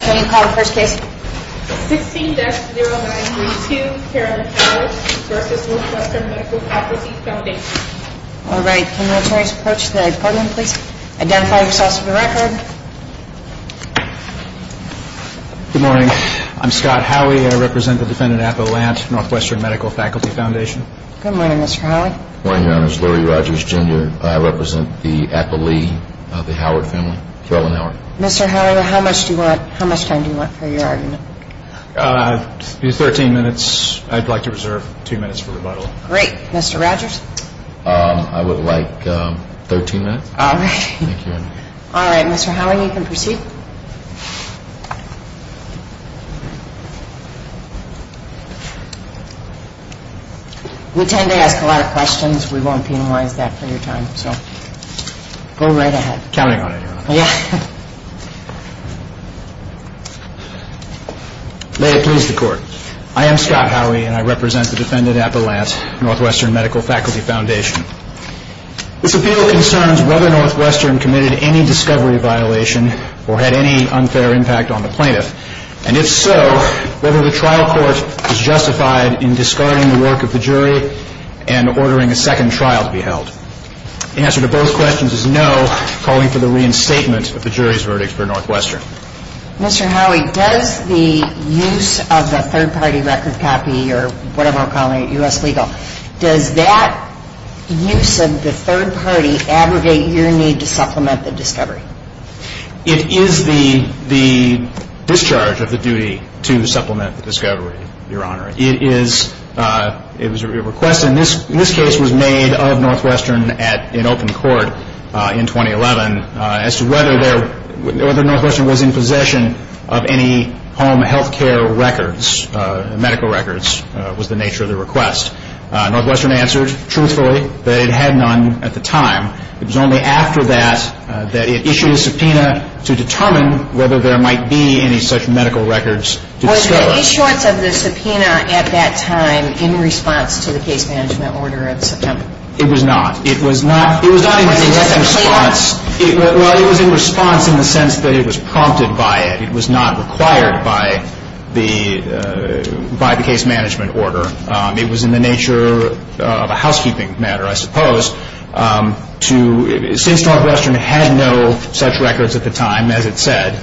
Can you call the first case? 16-0932 Carolyn Howard v. Northwestern Medical Faculty Foundation All right. Can the attorney's approach the department please? Identify yourself for the record. Good morning. I'm Scott Howey. I represent the defendant, Apple Lant, Northwestern Medical Faculty Foundation. Good morning, Mr. Howey. Good morning, Your Honor. This is Lurie Rogers, Jr. I represent the Apple Lee, the Howard family, Carolyn Howard. Mr. Howard, how much time do you want for your argument? Thirteen minutes. I'd like to reserve two minutes for rebuttal. Great. Mr. Rogers? I would like thirteen minutes. All right. Mr. Howard, you can proceed. We tend to ask a lot of questions. We won't penalize that for your time, so go right ahead. Counting on it, Your Honor. May it please the Court. I am Scott Howey, and I represent the defendant, Apple Lant, Northwestern Medical Faculty Foundation. This appeal concerns whether Northwestern committed any discovery violation or had any unfair impact on the plaintiff, and if so, whether the trial court is justified in discarding the work of the jury and ordering a second trial to be held. The answer to both questions is no, calling for the reinstatement of the jury's verdict for Northwestern. Mr. Howey, does the use of the third-party record copy, or whatever we're calling it, U.S. legal, does that use of the third party abrogate your need to supplement the discovery? It is the discharge of the duty to supplement the discovery, Your Honor. It is a request, and this case was made of Northwestern in open court in 2011 as to whether there or whether Northwestern was in possession of any home health care records, medical records, was the nature of the request. Northwestern answered truthfully that it had none at the time. It was only after that that it issued a subpoena to determine whether there might be any such medical records to discover. Was there any shorts of the subpoena at that time in response to the case management order of September? It was not. It was not in direct response. Was it a subpoena? Well, it was in response in the sense that it was prompted by it. It was not required by the case management order. It was in the nature of a housekeeping matter, I suppose. Since Northwestern had no such records at the time, as it said,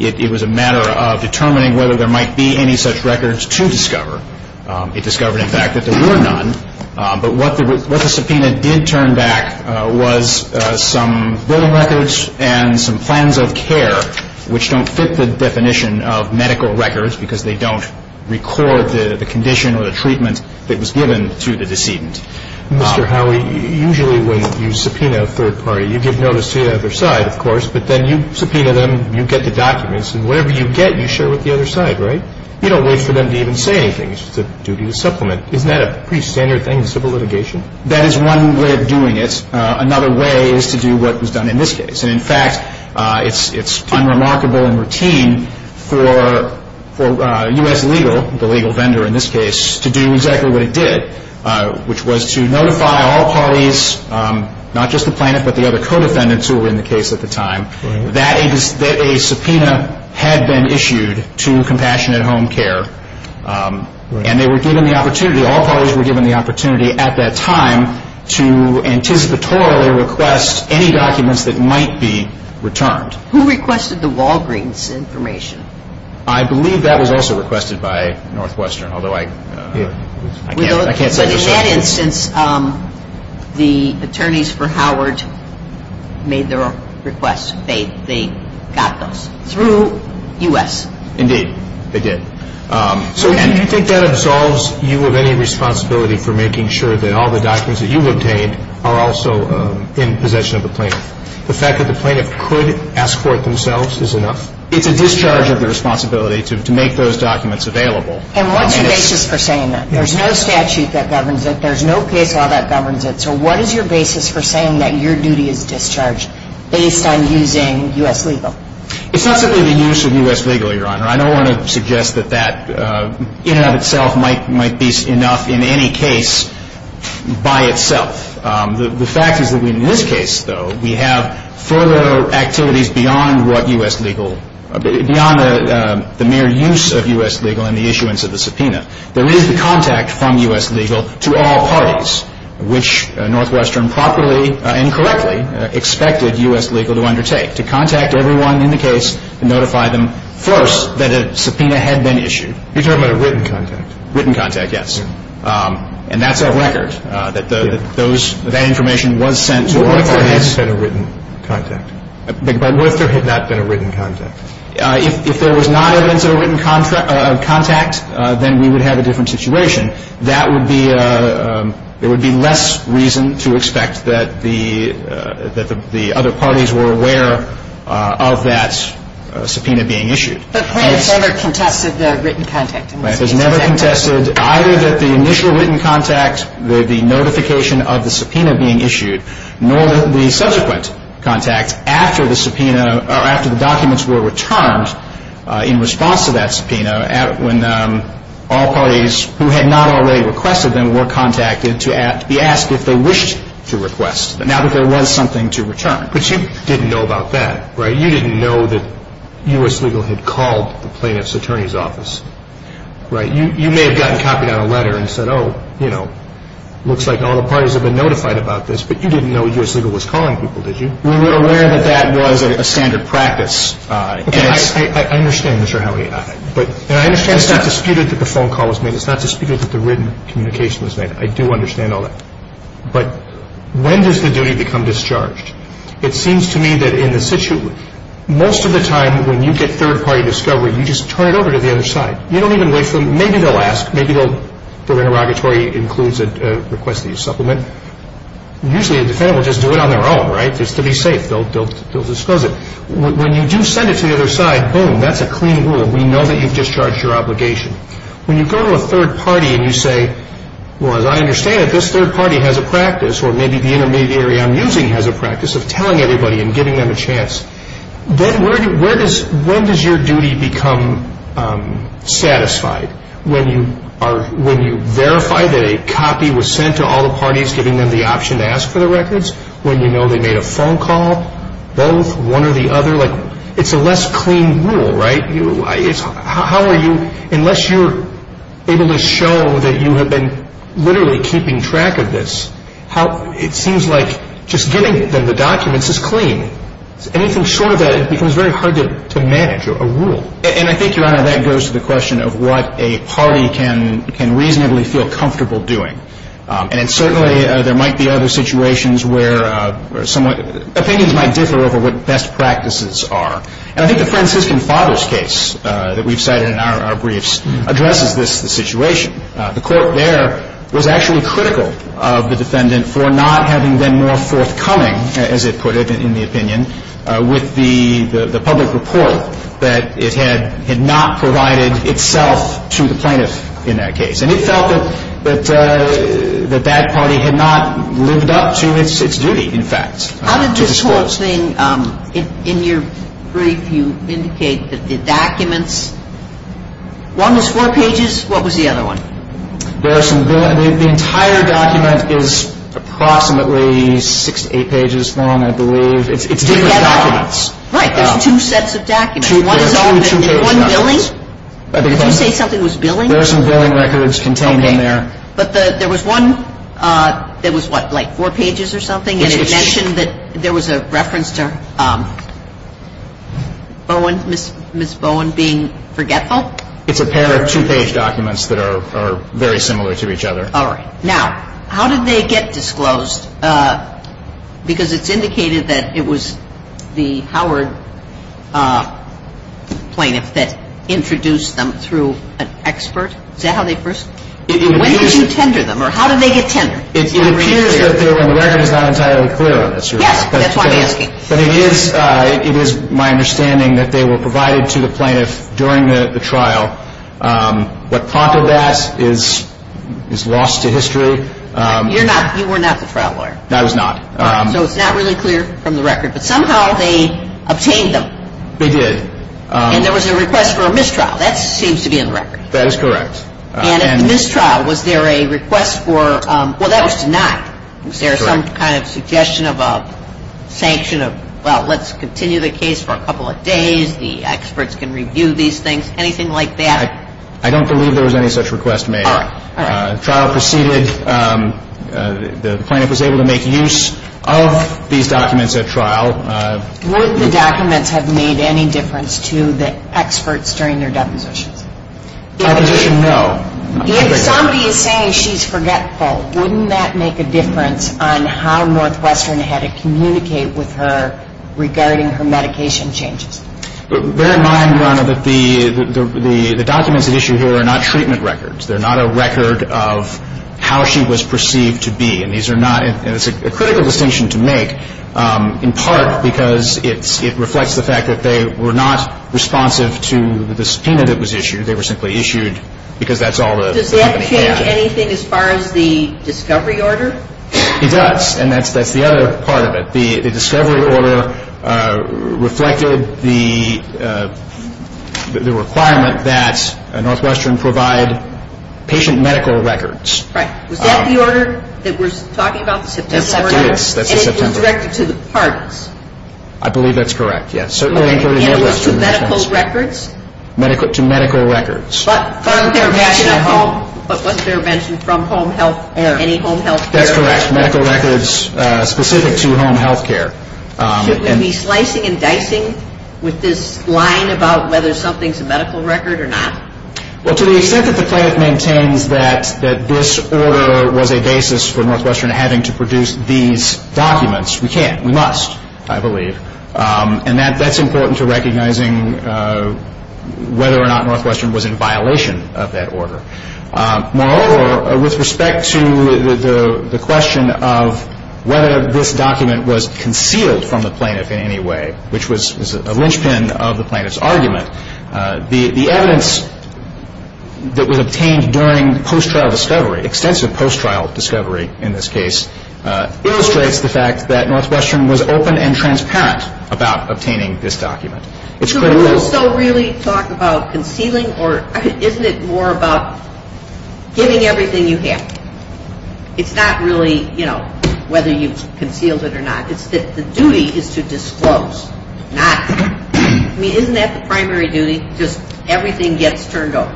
it was a matter of determining whether there might be any such records to discover. It discovered, in fact, that there were none. But what the subpoena did turn back was some building records and some plans of care, which don't fit the definition of medical records because they don't record the condition or the treatment that was given to the decedent. Mr. Howey, usually when you subpoena a third party, you give notice to the other side, of course, but then you subpoena them, you get the documents, and whatever you get, you share with the other side, right? You don't wait for them to even say anything. It's just a duty to supplement. Isn't that a pretty standard thing in civil litigation? That is one way of doing it. Another way is to do what was done in this case. And, in fact, it's unremarkable and routine for U.S. Legal, the legal vendor in this case, to do exactly what it did, which was to notify all parties, not just the plaintiff, but the other co-defendants who were in the case at the time, that a subpoena had been issued to Compassionate Home Care, and they were given the opportunity, all parties were given the opportunity at that time to anticipatorily request any documents that might be returned. Who requested the Walgreens information? I believe that was also requested by Northwestern, although I can't say for certain. By the head instance, the attorneys for Howard made their own requests. They got those through U.S. Indeed, they did. So do you think that absolves you of any responsibility for making sure that all the documents that you obtained are also in possession of the plaintiff? The fact that the plaintiff could escort themselves is enough? It's a discharge of the responsibility to make those documents available. And what's your basis for saying that? There's no statute that governs it. There's no case law that governs it. So what is your basis for saying that your duty is discharged based on using U.S. legal? It's not simply the use of U.S. legal, Your Honor. I don't want to suggest that that in and of itself might be enough in any case by itself. The fact is that in this case, though, we have further activities beyond what U.S. legal, beyond the mere use of U.S. legal and the issuance of the subpoena. There is the contact from U.S. legal to all parties, which Northwestern properly and correctly expected U.S. legal to undertake, to contact everyone in the case and notify them first that a subpoena had been issued. You're talking about a written contact? Written contact, yes. And that's a record that that information was sent to all parties. What if there had not been a written contact? What if there had not been a written contact? If there was not a written contact, then we would have a different situation. That would be a – there would be less reason to expect that the other parties were aware of that subpoena being issued. But France never contested the written contact in this case, is that correct? France has never contested either that the initial written contact, the notification of the subpoena being issued, nor the subsequent contact after the subpoena or after the documents were returned in response to that subpoena when all parties who had not already requested them were contacted to be asked if they wished to request, now that there was something to return. But you didn't know about that, right? You didn't know that U.S. legal had called the plaintiff's attorney's office, right? You may have gotten copied out a letter and said, looks like all the parties have been notified about this, but you didn't know U.S. legal was calling people, did you? We were aware that that was a standard practice. Okay, I understand, Mr. Howey. And I understand it's not disputed that the phone call was made. It's not disputed that the written communication was made. I do understand all that. But when does the duty become discharged? It seems to me that in the – most of the time when you get third-party discovery, you just turn it over to the other side. You don't even wait for – maybe they'll ask. The targetory includes a request that you supplement. Usually a defendant will just do it on their own, right, just to be safe. They'll disclose it. When you do send it to the other side, boom, that's a clean rule. We know that you've discharged your obligation. When you go to a third party and you say, well, as I understand it, this third party has a practice, or maybe the intermediary I'm using has a practice, of telling everybody and giving them a chance. Then where does – when does your duty become satisfied? When you verify that a copy was sent to all the parties, giving them the option to ask for the records? When you know they made a phone call, both, one or the other? It's a less clean rule, right? How are you – unless you're able to show that you have been literally keeping track of this, it seems like just giving them the documents is clean. And I think, Your Honor, that goes to the question of what a party can reasonably feel comfortable doing. And certainly there might be other situations where somewhat – opinions might differ over what best practices are. And I think the Franciscan Fathers case that we've cited in our briefs addresses this situation. The court there was actually critical of the defendant for not having been more forthcoming, as it put it, in the opinion, with the public report that it had not provided itself to the plaintiff in that case. And it felt that that party had not lived up to its duty, in fact. How did this whole thing – in your brief, you indicate that the documents – one was four pages? What was the other one? There are some – the entire document is approximately six to eight pages long, I believe. It's different documents. Right. There's two sets of documents. One is all – one billing? Did you say something was billing? There are some billing records contained in there. But there was one that was, what, like four pages or something? And it mentioned that there was a reference to Bowen – Ms. Bowen being forgetful? It's a pair of two-page documents that are very similar to each other. All right. Now, how did they get disclosed? Because it's indicated that it was the Howard plaintiff that introduced them through an expert. Is that how they first – when did you tender them, or how did they get tendered? It appears that they were – and the record is not entirely clear on this. Yes, that's why I'm asking. But it is my understanding that they were provided to the plaintiff during the trial. What prompted that is lost to history. You're not – you were not the trial lawyer. I was not. So it's not really clear from the record. But somehow they obtained them. They did. And there was a request for a mistrial. That seems to be in the record. That is correct. And at the mistrial, was there a request for – well, that was denied. Is there some kind of suggestion of a sanction of, well, let's continue the case for a couple of days, the experts can review these things, anything like that? I don't believe there was any such request made. All right. The trial proceeded. The plaintiff was able to make use of these documents at trial. Would the documents have made any difference to the experts during their depositions? Deposition, no. If somebody is saying she's forgetful, wouldn't that make a difference on how Northwestern had to communicate with her regarding her medication changes? Bear in mind, Your Honor, that the documents at issue here are not treatment records. They're not a record of how she was perceived to be. And these are not – and it's a critical distinction to make, in part because it reflects the fact that they were not responsive to the subpoena that was issued. They were simply issued because that's all the – Does that change anything as far as the discovery order? It does, and that's the other part of it. The discovery order reflected the requirement that Northwestern provide patient medical records. Right. Was that the order that we're talking about, the September order? Yes, that is. And it was directed to the parties. I believe that's correct, yes. And it was to medical records? To medical records. But wasn't there a mention of home – but wasn't there a mention from home health – any home health care? That's correct. Medical records specific to home health care. Should we be slicing and dicing with this line about whether something's a medical record or not? Well, to the extent that the plaintiff maintains that this order was a basis for Northwestern having to produce these documents, we can't. We must, I believe. And that's important to recognizing whether or not Northwestern was in violation of that order. Moreover, with respect to the question of whether this document was concealed from the plaintiff in any way, which was a linchpin of the plaintiff's argument, the evidence that was obtained during post-trial discovery, extensive post-trial discovery in this case, illustrates the fact that Northwestern was open and transparent about obtaining this document. So we'll still really talk about concealing? Or isn't it more about giving everything you have? It's not really, you know, whether you've concealed it or not. It's that the duty is to disclose, not – I mean, isn't that the primary duty? Just everything gets turned over.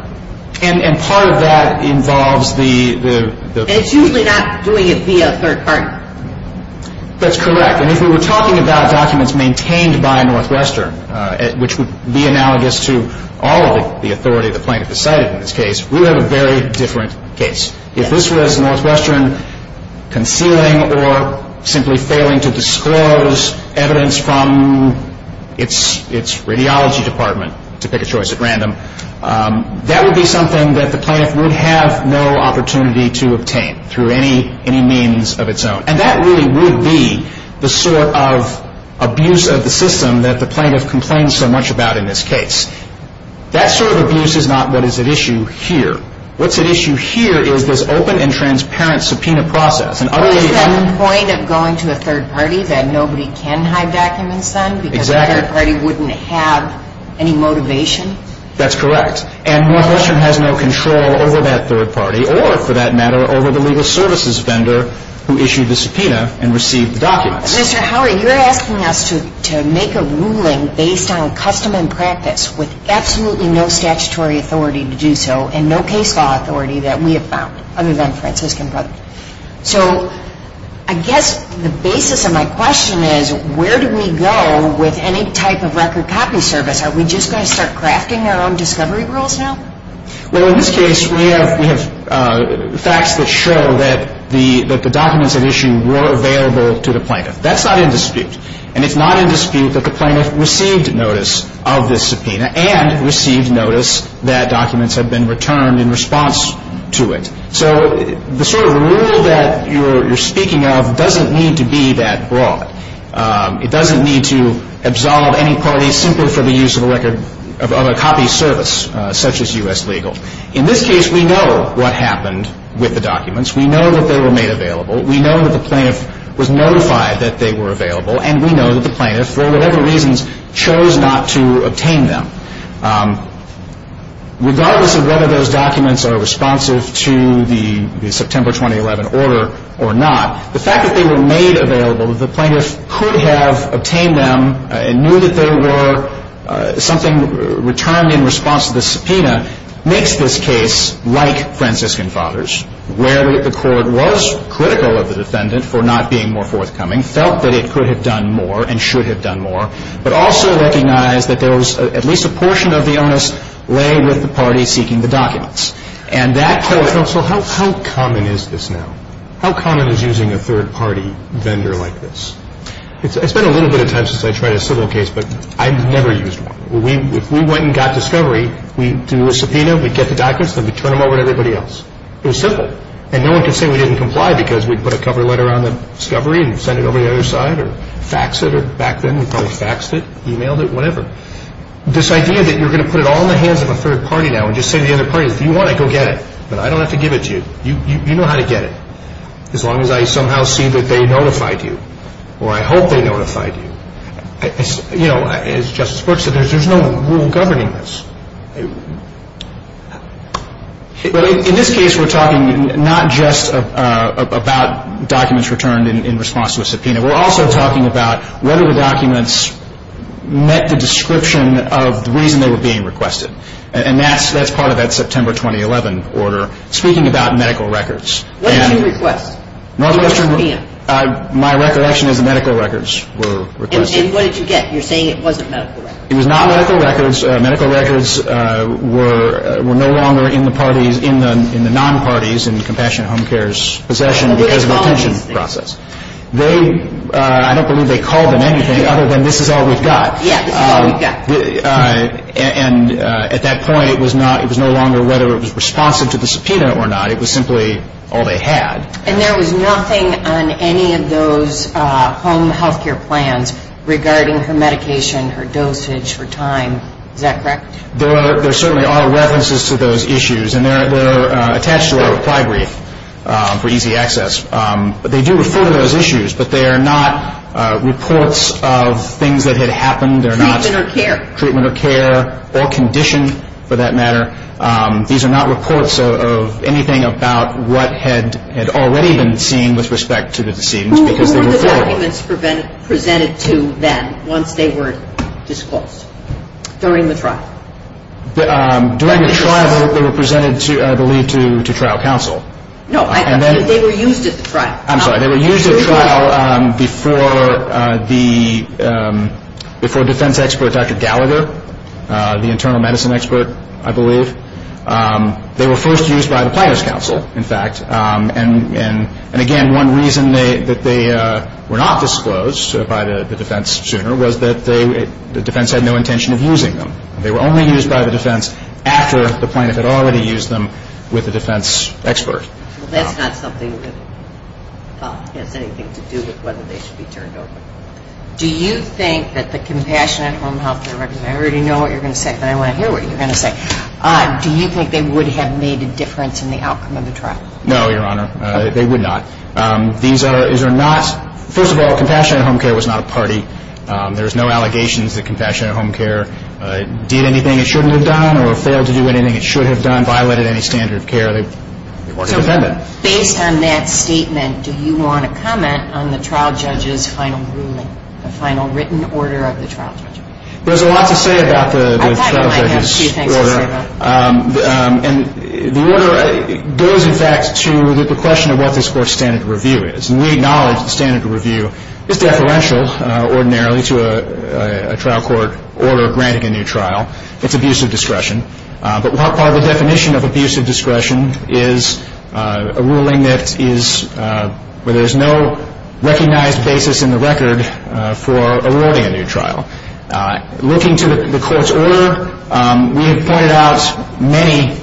And part of that involves the – And it's usually not doing it via third party. That's correct. And if we were talking about documents maintained by Northwestern, which would be analogous to all of the authority the plaintiff decided in this case, we would have a very different case. If this was Northwestern concealing or simply failing to disclose evidence from its radiology department, to pick a choice at random, that would be something that the plaintiff would have no opportunity to obtain through any means of its own. And that really would be the sort of abuse of the system that the plaintiff complained so much about in this case. That sort of abuse is not what is at issue here. What's at issue here is this open and transparent subpoena process. Is that the point of going to a third party that nobody can hide documents on? Exactly. Because the third party wouldn't have any motivation? That's correct. And Northwestern has no control over that third party or, for that matter, over the legal services vendor who issued the subpoena and received the documents. Mr. Howard, you're asking us to make a ruling based on custom and practice with absolutely no statutory authority to do so and no case law authority that we have found, other than Franciscan Brotherhood. So I guess the basis of my question is, where do we go with any type of record copy service? Are we just going to start crafting our own discovery rules now? Well, in this case, we have facts that show that the documents at issue were available to the plaintiff. That's not in dispute. And it's not in dispute that the plaintiff received notice of this subpoena and received notice that documents had been returned in response to it. So the sort of rule that you're speaking of doesn't need to be that broad. It doesn't need to absolve any parties simply for the use of a copy service such as U.S. Legal. In this case, we know what happened with the documents. We know that they were made available. We know that the plaintiff was notified that they were available, and we know that the plaintiff, for whatever reasons, chose not to obtain them. Regardless of whether those documents are responsive to the September 2011 order or not, the fact that they were made available, that the plaintiff could have obtained them and knew that there were something returned in response to the subpoena, makes this case like Franciscan Fathers, where the court was critical of the defendant for not being more forthcoming, felt that it could have done more and should have done more, but also recognized that there was at least a portion of the onus lay with the party seeking the documents. So how common is this now? How common is using a third-party vendor like this? It's been a little bit of time since I tried a civil case, but I've never used one. If we went and got discovery, we'd do a subpoena, we'd get the documents, then we'd turn them over to everybody else. It was simple, and no one could say we didn't comply because we'd put a cover letter on the discovery and send it over to the other side or fax it, or back then we probably faxed it, emailed it, whatever. This idea that you're going to put it all in the hands of a third party now and just say to the other party, if you want it, go get it, but I don't have to give it to you. You know how to get it, as long as I somehow see that they notified you, or I hope they notified you. As Justice Brooks said, there's no rule governing this. In this case, we're talking not just about documents returned in response to a subpoena. We're also talking about whether the documents met the description of the reason they were being requested, and that's part of that September 2011 order. Speaking about medical records. What did you request? My recollection is the medical records were requested. And what did you get? You're saying it wasn't medical records. It was not medical records. Medical records were no longer in the parties, in the non-parties in Compassionate Home Care's possession because of a detention process. I don't believe they called them anything other than this is all we've got. Yeah, this is all we've got. And at that point, it was no longer whether it was responsive to the subpoena or not. It was simply all they had. And there was nothing on any of those home health care plans regarding her medication, her dosage, her time. Is that correct? There certainly are references to those issues, and they're attached to our reply brief for easy access. But they do refer to those issues, but they are not reports of things that had happened. Treatment or care. Treatment or care or condition, for that matter. These are not reports of anything about what had already been seen with respect to the decedents. Who were the documents presented to then once they were disclosed during the trial? During the trial, they were presented, I believe, to trial counsel. No, they were used at the trial. I'm sorry, they were used at trial before defense expert Dr. Gallagher, the internal medicine expert, I believe. They were first used by the plaintiff's counsel, in fact. And again, one reason that they were not disclosed by the defense sooner was that the defense had no intention of using them. They were only used by the defense after the plaintiff had already used them with the defense expert. Well, that's not something that has anything to do with whether they should be turned over. Do you think that the Compassionate Home Health Director, I already know what you're going to say, but I want to hear what you're going to say. Do you think they would have made a difference in the outcome of the trial? No, Your Honor. They would not. These are not, first of all, Compassionate Home Care was not a party. There's no allegations that Compassionate Home Care did anything it shouldn't have done or failed to do anything it should have done, violated any standard of care. They weren't independent. So based on that statement, do you want to comment on the trial judge's final ruling, the final written order of the trial judge? There's a lot to say about the trial judge's order. I have two things to say about it. And the order goes, in fact, to the question of what this Court's standard of review is. And we acknowledge the standard of review is deferential, ordinarily, to a trial court order granting a new trial. It's abuse of discretion. But what part of the definition of abuse of discretion is a ruling that is, where there's no recognized basis in the record for awarding a new trial? Looking to the Court's order, we have pointed out many,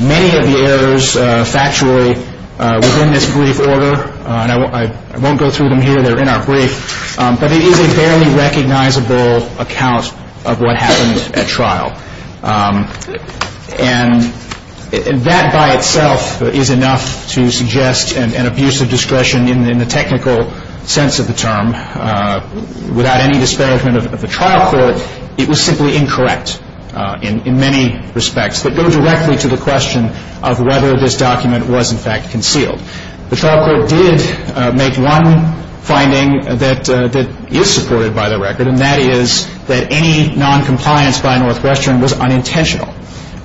many of the errors, factually, within this brief order. And I won't go through them here. They're in our brief. But it is a barely recognizable account of what happened at trial. And that by itself is enough to suggest an abuse of discretion in the technical sense of the term. Without any disparagement of the trial court, it was simply incorrect in many respects that go directly to the question of whether this document was, in fact, concealed. The trial court did make one finding that is supported by the record, and that is that any noncompliance by Northwestern was unintentional.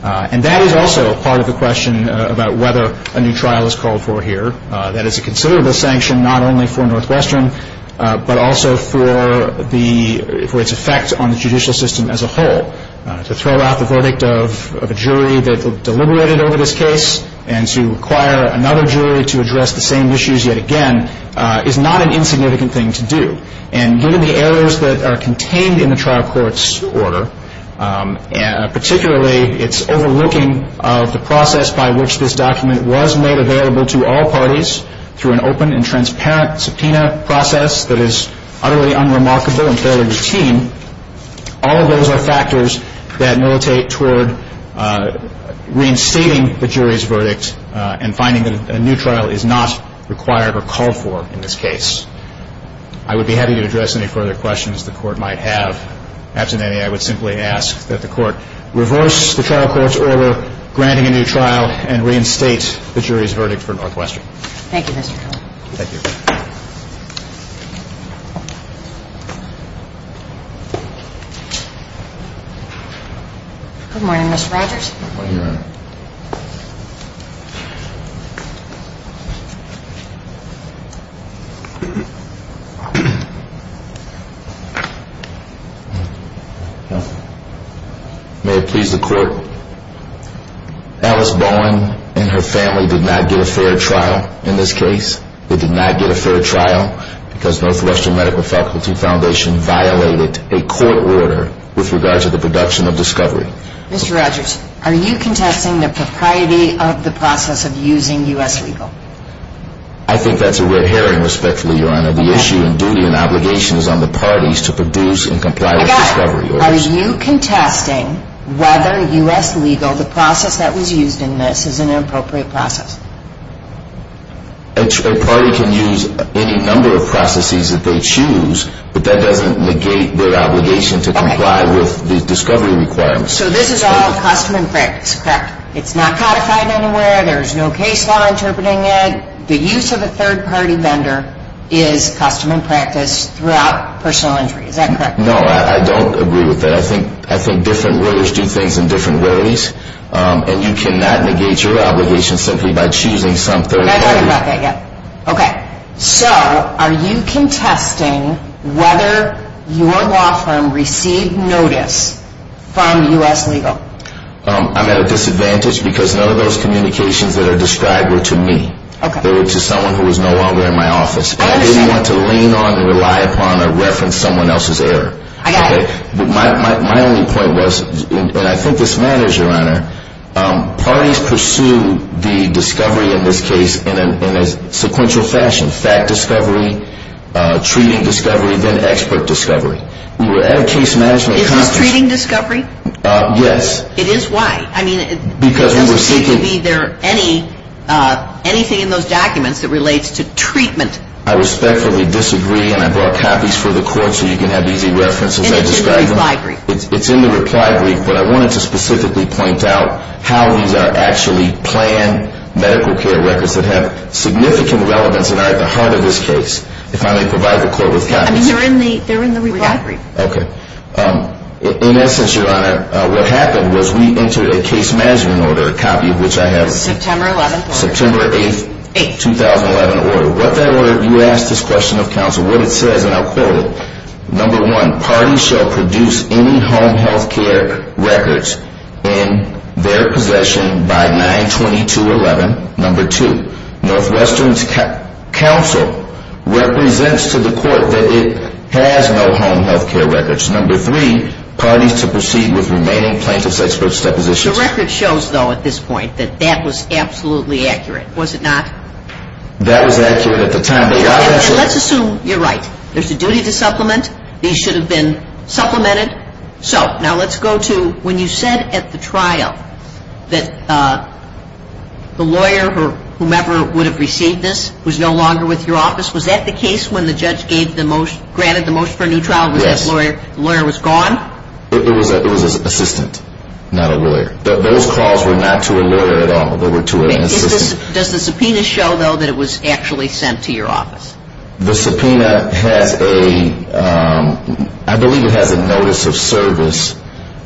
And that is also part of the question about whether a new trial is called for here. That is a considerable sanction not only for Northwestern, but also for its effect on the judicial system as a whole. To throw out the verdict of a jury that deliberated over this case and to require another jury to address the same issues yet again is not an insignificant thing to do. And given the errors that are contained in the trial court's order, particularly its overlooking of the process by which this document was made available to all parties through an open and transparent subpoena process that is utterly unremarkable and fairly routine, all of those are factors that militate toward reinstating the jury's verdict and finding that a new trial is not required or called for in this case. I would be happy to address any further questions the Court might have. After that, I would simply ask that the Court reverse the trial court's order granting a new trial and reinstate the jury's verdict for Northwestern. Thank you, Mr. Kelly. Thank you. Good morning, Mr. Rogers. Good morning, Your Honor. May it please the Court, Alice Bowen and her family did not get a fair trial in this case. They did not get a fair trial because Northwestern Medical Faculty Foundation violated a court order with regard to the production of discovery. Mr. Rogers, are you contesting the propriety of the process of using U.S. legal? I think that's a red herring, respectfully, Your Honor. The issue and duty and obligation is on the parties to produce and comply with discovery orders. Again, are you contesting whether U.S. legal, the process that was used in this, is an appropriate process? A party can use any number of processes that they choose, but that doesn't negate their obligation to comply with the discovery requirements. So this is all custom and practice, correct? It's not codified anywhere. There's no case law interpreting it. The use of a third-party vendor is custom and practice throughout personal injury. Is that correct? No, I don't agree with that. I think different lawyers do things in different ways, and you cannot negate your obligation simply by choosing some third party. Okay, so are you contesting whether your law firm received notice from U.S. legal? I'm at a disadvantage because none of those communications that are described were to me. They were to someone who was no longer in my office. I understand. I didn't want to lean on or rely upon or reference someone else's error. I got it. My only point was, and I think this matters, Your Honor, parties pursue the discovery in this case in a sequential fashion, fact discovery, treating discovery, then expert discovery. We were at a case management conference. Is this treating discovery? Yes. It is? Why? I mean, it doesn't seem to be there anything in those documents that relates to treatment. I respectfully disagree, and I brought copies for the Court so you can have easy reference as I describe them. It's in the reply brief. It's in the reply brief, but I wanted to specifically point out how these are actually planned medical care records that have significant relevance and are at the heart of this case. If I may provide the Court with copies. I mean, they're in the reply brief. Okay. In essence, Your Honor, what happened was we entered a case management order, a copy of which I have. September 11th order. September 8th, 2011 order. What that order, you ask this question of counsel, what it says, and I'll quote it. Number one, parties shall produce any home health care records in their possession by 9-22-11. Number two, Northwestern's counsel represents to the Court that it has no home health care records. Number three, parties to proceed with remaining plaintiff's expert depositions. The record shows, though, at this point that that was absolutely accurate, was it not? That was accurate at the time. Let's assume you're right. There's a duty to supplement. These should have been supplemented. So now let's go to when you said at the trial that the lawyer or whomever would have received this was no longer with your office, was that the case when the judge granted the motion for a new trial? Yes. The lawyer was gone? It was an assistant, not a lawyer. Those calls were not to a lawyer at all. They were to an assistant. Does the subpoena show, though, that it was actually sent to your office? The subpoena has a, I believe it has a notice of service. Is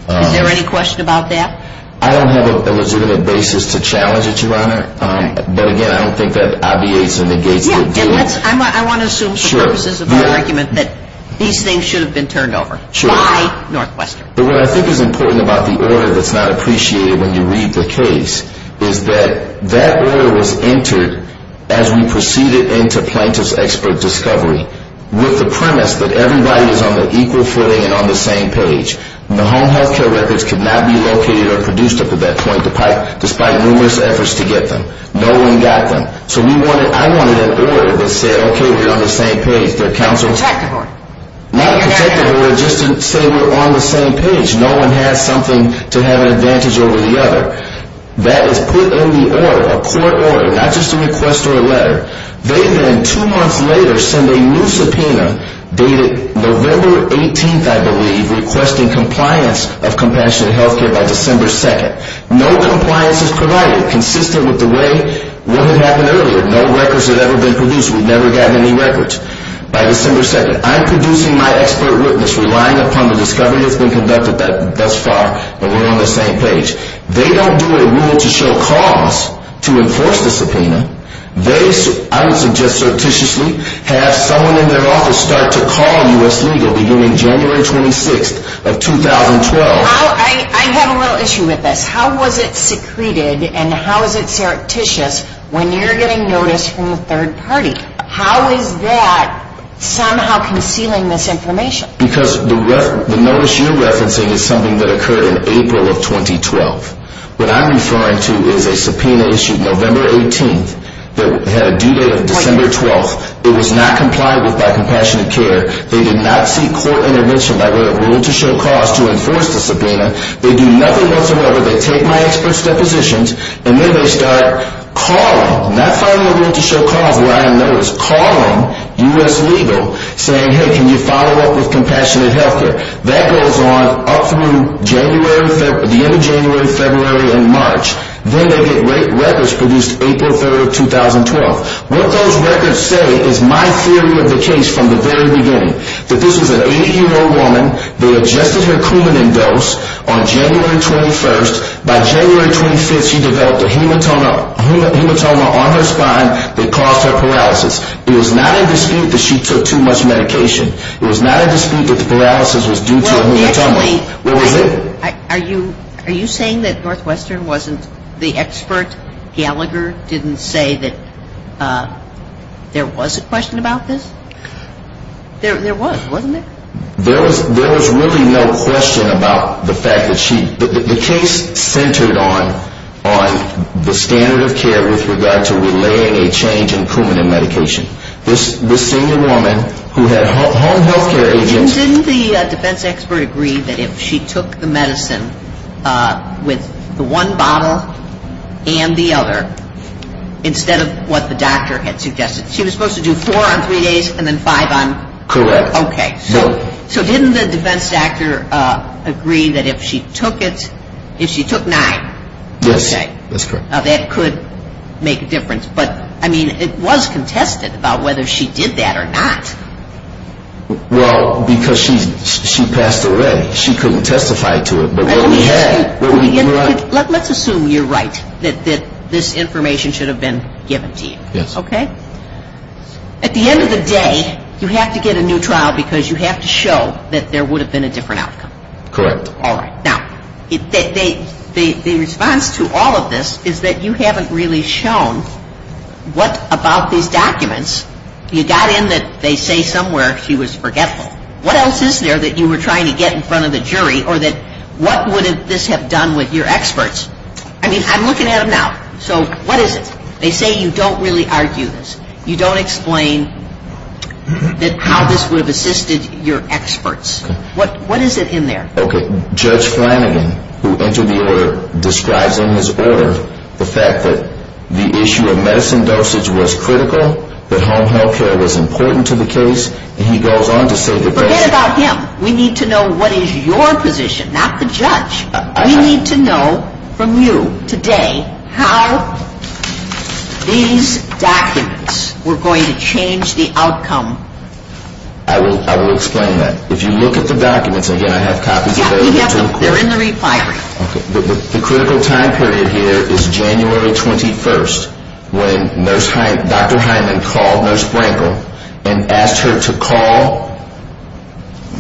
there any question about that? I don't have a legitimate basis to challenge it, Your Honor. But, again, I don't think that obviates or negates it. I want to assume for purposes of my argument that these things should have been turned over by Northwestern. But what I think is important about the order that's not appreciated when you read the case is that that order was entered as we proceeded into plaintiff's expert discovery with the premise that everybody is on the equal footing and on the same page. The home health care records could not be located or produced up at that point despite numerous efforts to get them. No one got them. So I wanted an order that said, okay, we're on the same page. Not a protective order just to say we're on the same page. No one has something to have an advantage over the other. That is put in the order, a court order, not just a request or a letter. They then, two months later, send a new subpoena dated November 18th, I believe, requesting compliance of Compassionate Health Care by December 2nd. No compliance is provided consistent with the way what had happened earlier. No records had ever been produced. We've never gotten any records by December 2nd. I'm producing my expert witness relying upon the discovery that's been conducted thus far, but we're on the same page. They don't do a rule to show cause to enforce the subpoena. They, I would suggest surreptitiously, have someone in their office start to call U.S. Legal beginning January 26th of 2012. I have a little issue with this. How was it secreted and how is it surreptitious when you're getting notice from the third party? How is that somehow concealing this information? Because the notice you're referencing is something that occurred in April of 2012. What I'm referring to is a subpoena issued November 18th that had a due date of December 12th. It was not complied with by Compassionate Care. They did not seek court intervention by a rule to show cause to enforce the subpoena. They do nothing whatsoever. They take my expert's depositions, and then they start calling, not following a rule to show cause, what I know is calling U.S. Legal saying, hey, can you follow up with Compassionate Health Care? That goes on up through January, the end of January, February, and March. Then they get records produced April 3rd of 2012. What those records say is my theory of the case from the very beginning, that this was an 80-year-old woman. They adjusted her Coumadin dose on January 21st. By January 25th, she developed a hematoma on her spine that caused her paralysis. It was not a dispute that she took too much medication. It was not a dispute that the paralysis was due to a hematoma. Are you saying that Northwestern wasn't, the expert Gallagher didn't say that there was a question about this? There was, wasn't there? There was really no question about the fact that she, the case centered on the standard of care with regard to relaying a change in Coumadin medication. This senior woman who had home health care agents. Didn't the defense expert agree that if she took the medicine with the one bottle and the other, instead of what the doctor had suggested, she was supposed to do four on three days and then five on? Correct. Okay. So didn't the defense doctor agree that if she took it, if she took nine. Yes. Okay. That's correct. Now that could make a difference, but I mean, it was contested about whether she did that or not. Well, because she passed away. She couldn't testify to it. Let's assume you're right, that this information should have been given to you. Yes. Okay. At the end of the day, you have to get a new trial because you have to show that there would have been a different outcome. Correct. All right. Now, the response to all of this is that you haven't really shown what about these documents. You got in that they say somewhere she was forgetful. What else is there that you were trying to get in front of the jury or that what would this have done with your experts? I mean, I'm looking at them now. So what is it? They say you don't really argue this. You don't explain that how this would have assisted your experts. What is it in there? Okay. Judge Flanagan, who entered the order, describes in his order the fact that the issue of medicine dosage was critical, that home health care was important to the case, and he goes on to say that that's... Forget about him. We need to know what is your position, not the judge. We need to know from you today how these documents were going to change the outcome. I will explain that. If you look at the documents, again, I have copies available. Yeah, we have them. They're in the refinery. Okay. The critical time period here is January 21st, when Dr. Hyndman called Nurse Brankle and asked her to call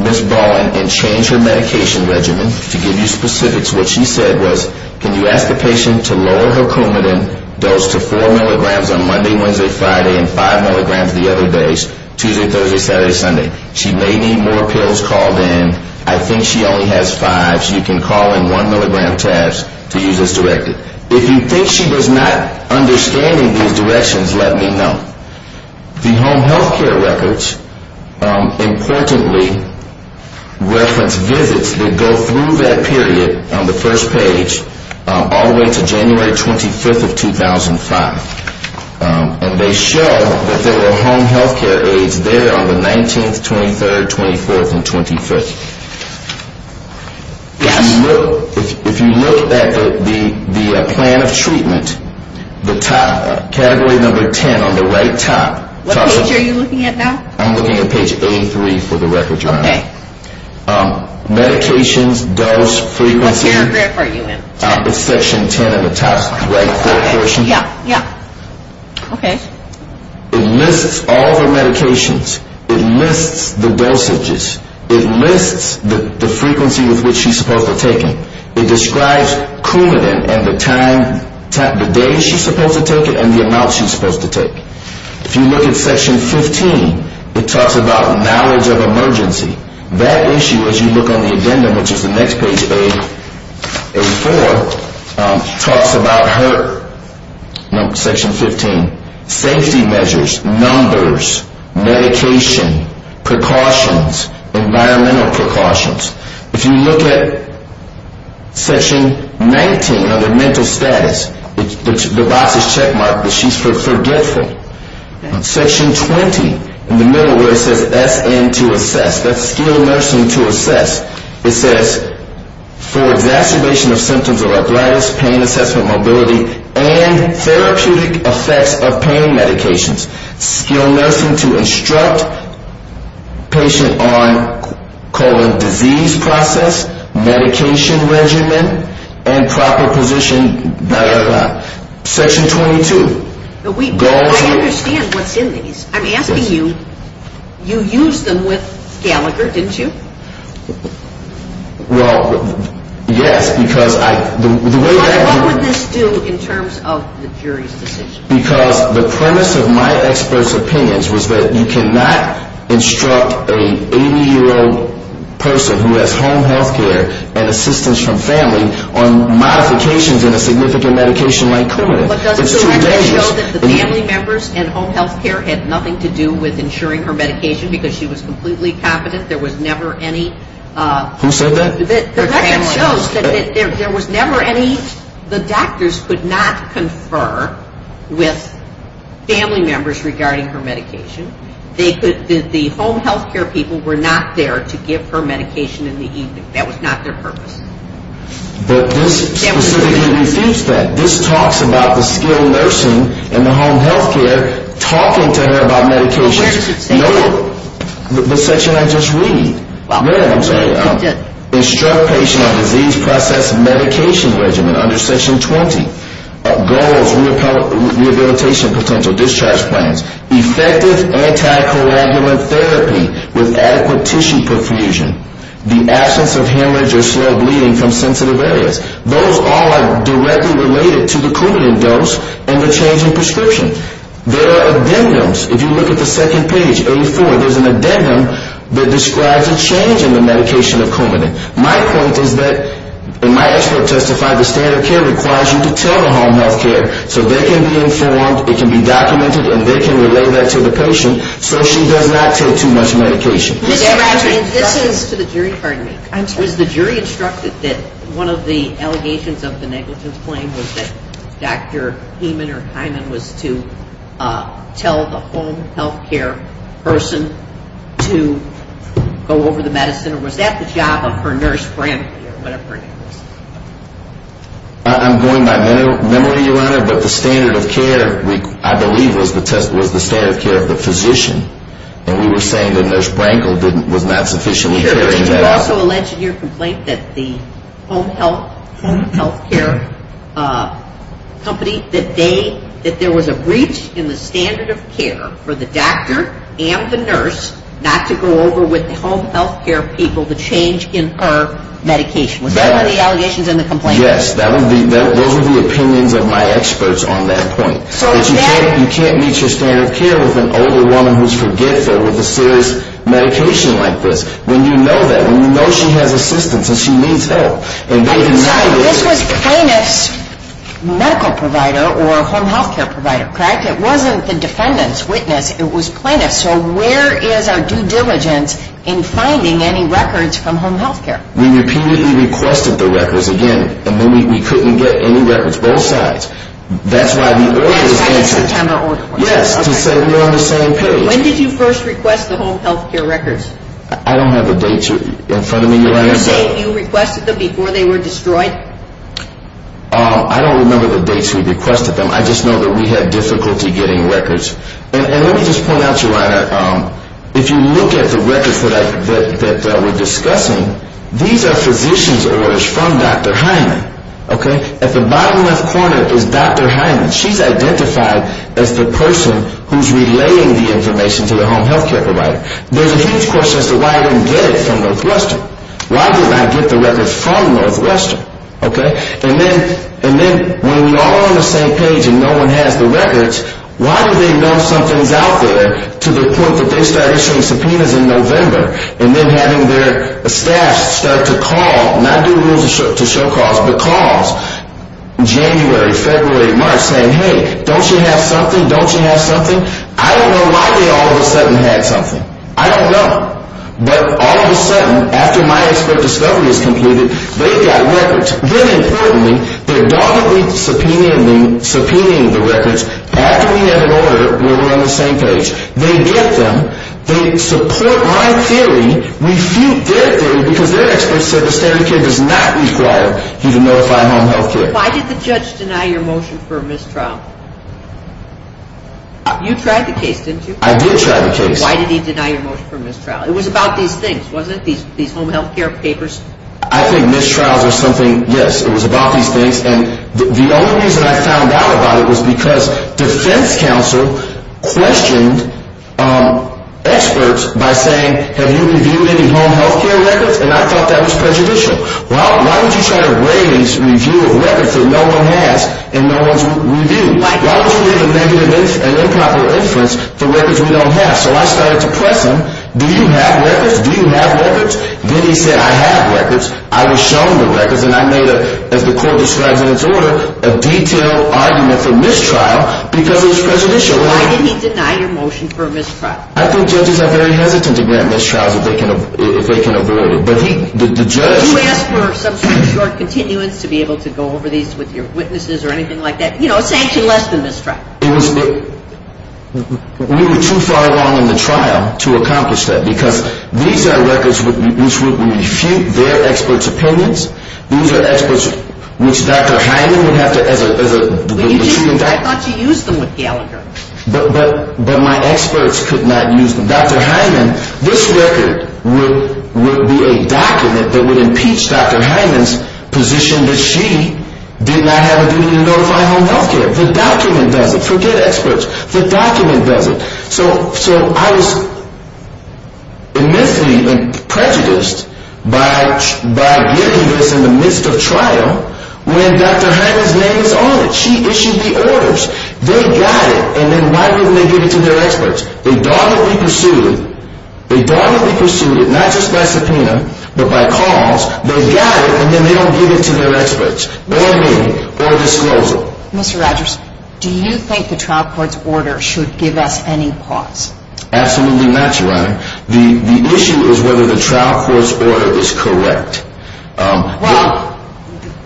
Ms. Ball and change her medication regimen. To give you specifics, what she said was, can you ask the patient to lower her Coumadin dose to 4 milligrams on Monday, Wednesday, Friday, and 5 milligrams the other days, Tuesday, Thursday, Saturday, Sunday? She may need more pills called in. I think she only has fives. You can call in 1 milligram tabs to use as directed. If you think she does not understand these directions, let me know. The home health care records importantly reference visits that go through that period on the first page all the way to January 25th of 2005, and they show that there were home health care aides there on the 19th, 23rd, 24th, and 25th. Yes. If you look at the plan of treatment, the top, category number 10 on the right top. What page are you looking at now? I'm looking at page 83 for the record, Your Honor. Okay. Medications, dose, frequency. What paragraph are you in? It's section 10 in the top right-hand portion. Yeah, yeah. Okay. It lists all the medications. It lists the dosages. It lists the frequency with which she's supposed to take them. It describes coumadin and the time, the day she's supposed to take it, and the amount she's supposed to take. If you look at section 15, it talks about knowledge of emergency. That issue, as you look on the addendum, which is the next page, page 84, talks about her, section 15, safety measures, numbers, medication, precautions, environmental precautions. If you look at section 19 under mental status, the box is checkmarked, but she's forgetful. Section 20 in the middle where it says SN to assess, that's skilled nursing to assess, it says for exacerbation of symptoms of arthritis, pain assessment, mobility, and therapeutic effects of pain medications. Skilled nursing to instruct patient on colon disease process, medication regimen, and proper position. Section 22. I understand what's in these. I'm asking you, you used them with Gallagher, didn't you? Well, yes, because I, the way that. What would this do in terms of the jury's decision? Because the premise of my expert's opinions was that you cannot instruct an 80-year-old person who has home health care and assistance from family on modifications in a significant medication like colon. It's too dangerous. But doesn't the record show that the family members and home health care had nothing to do with ensuring her medication because she was completely confident there was never any. Who said that? The record shows that there was never any, the doctors could not confer with family members regarding her medication. The home health care people were not there to give her medication in the evening. That was not their purpose. But this specifically refutes that. This talks about the skilled nursing and the home health care talking to her about medications. Well, where does it say that? The section I just read. Yeah, I'm sorry. Instruct patient on disease process medication regimen under section 20. Goals, rehabilitation potential, discharge plans, effective anticoagulant therapy with adequate tissue perfusion, the absence of hemorrhage or slow bleeding from sensitive areas. Those all are directly related to the Coumadin dose and the change in prescription. There are addendums. If you look at the second page, 84, there's an addendum that describes a change in the medication of Coumadin. My point is that, and my expert testified, the standard care requires you to tell the home health care so they can be informed, it can be documented, and they can relay that to the patient so she does not take too much medication. Mr. Rafferty, this is to the jury. Pardon me. I'm sorry. Was the jury instructed that one of the allegations of the negligence claim was that Dr. Heyman or Heyman was to tell the home health care person to go over the medicine or was that the job of her nurse, Bramble, or whatever it was? I'm going by memory, Your Honor, but the standard of care, I believe, was the standard of care of the physician. And we were saying that Nurse Bramble was not sufficiently caring. Did you also allege in your complaint that the home health care company, that there was a breach in the standard of care for the doctor and the nurse not to go over with the home health care people the change in her medication? Was that one of the allegations in the complaint? Yes. Those were the opinions of my experts on that point. You can't meet your standard of care with an older woman who's forgetful with a serious medication like this when you know that, when you know she has assistance and she needs help. I'm sorry. This was plaintiff's medical provider or home health care provider, correct? It wasn't the defendant's witness. It was plaintiff's. All right. So where is our due diligence in finding any records from home health care? We repeatedly requested the records again, and then we couldn't get any records. Both sides. That's why the order is answered. Yes, by the September order. Yes, to say we're on the same page. When did you first request the home health care records? I don't have the dates in front of me, Your Honor. Are you saying you requested them before they were destroyed? I don't remember the dates we requested them. I just know that we had difficulty getting records. And let me just point out, Your Honor, if you look at the records that we're discussing, these are physician's orders from Dr. Hyman, okay? At the bottom left corner is Dr. Hyman. She's identified as the person who's relaying the information to the home health care provider. There's a huge question as to why I didn't get it from Northwestern. Why didn't I get the records from Northwestern, okay? And then when we're all on the same page and no one has the records, why do they know something's out there to the point that they start issuing subpoenas in November and then having their staff start to call, not do rules to show calls, but calls January, February, March saying, hey, don't you have something? Don't you have something? I don't know why they all of a sudden had something. I don't know. But all of a sudden, after my expert discovery is completed, they've got records. Then importantly, they're dogmatically subpoenaing the records after we have an order where we're on the same page. They get them. They support my theory, refute their theory because their expert said the standard care does not require you to notify home health care. Why did the judge deny your motion for a mistrial? You tried the case, didn't you? I did try the case. Why did he deny your motion for a mistrial? It was about these things, wasn't it, these home health care papers? I think mistrials are something, yes, it was about these things. And the only reason I found out about it was because defense counsel questioned experts by saying, have you reviewed any home health care records? And I thought that was prejudicial. Why would you try to raise review of records that no one has and no one's reviewed? Why would you give a negative and improper inference for records we don't have? So I started to press him. Do you have records? Do you have records? Then he said, I have records. I was shown the records, and I made a, as the court describes in its order, a detailed argument for mistrial because it was prejudicial. Why did he deny your motion for a mistrial? I think judges are very hesitant to grant mistrials if they can avoid it. But he, the judge. Did you ask for some sort of short continuance to be able to go over these with your witnesses or anything like that? You know, a sanction less than mistrial. We were too far along in the trial to accomplish that because these are records which would refute their experts' opinions. These are experts which Dr. Hyman would have to, as a true doctor. I thought you used them with Gallagher. But my experts could not use them. Dr. Hyman, this record would be a document that would impeach Dr. Hyman's position that she did not have a duty to notify home health care. The document does it. Forget experts. The document does it. So I was immensely prejudiced by getting this in the midst of trial when Dr. Hyman's name is on it. She issued the orders. They got it, and then why wouldn't they give it to their experts? They don't want to be pursued. They don't want to be pursued, not just by subpoena, but by cause. They got it, and then they don't give it to their experts or me or disclosure. Mr. Rogers, do you think the trial court's order should give us any pause? Absolutely not, Your Honor. The issue is whether the trial court's order is correct. Well,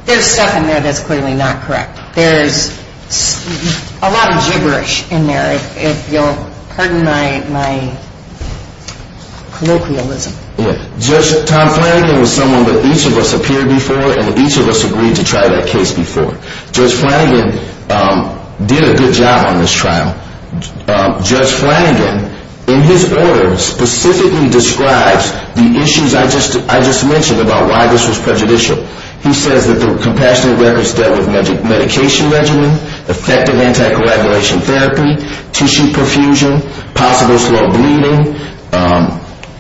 there's stuff in there that's clearly not correct. There's a lot of gibberish in there, if you'll pardon my colloquialism. Judge Tom Flanagan was someone that each of us appeared before and each of us agreed to try that case before. Judge Flanagan did a good job on this trial. Judge Flanagan, in his order, specifically describes the issues I just mentioned about why this was prejudicial. He says that the compassionate records dealt with medication regimen, effective anticoagulation therapy, tissue perfusion, possible slow bleeding,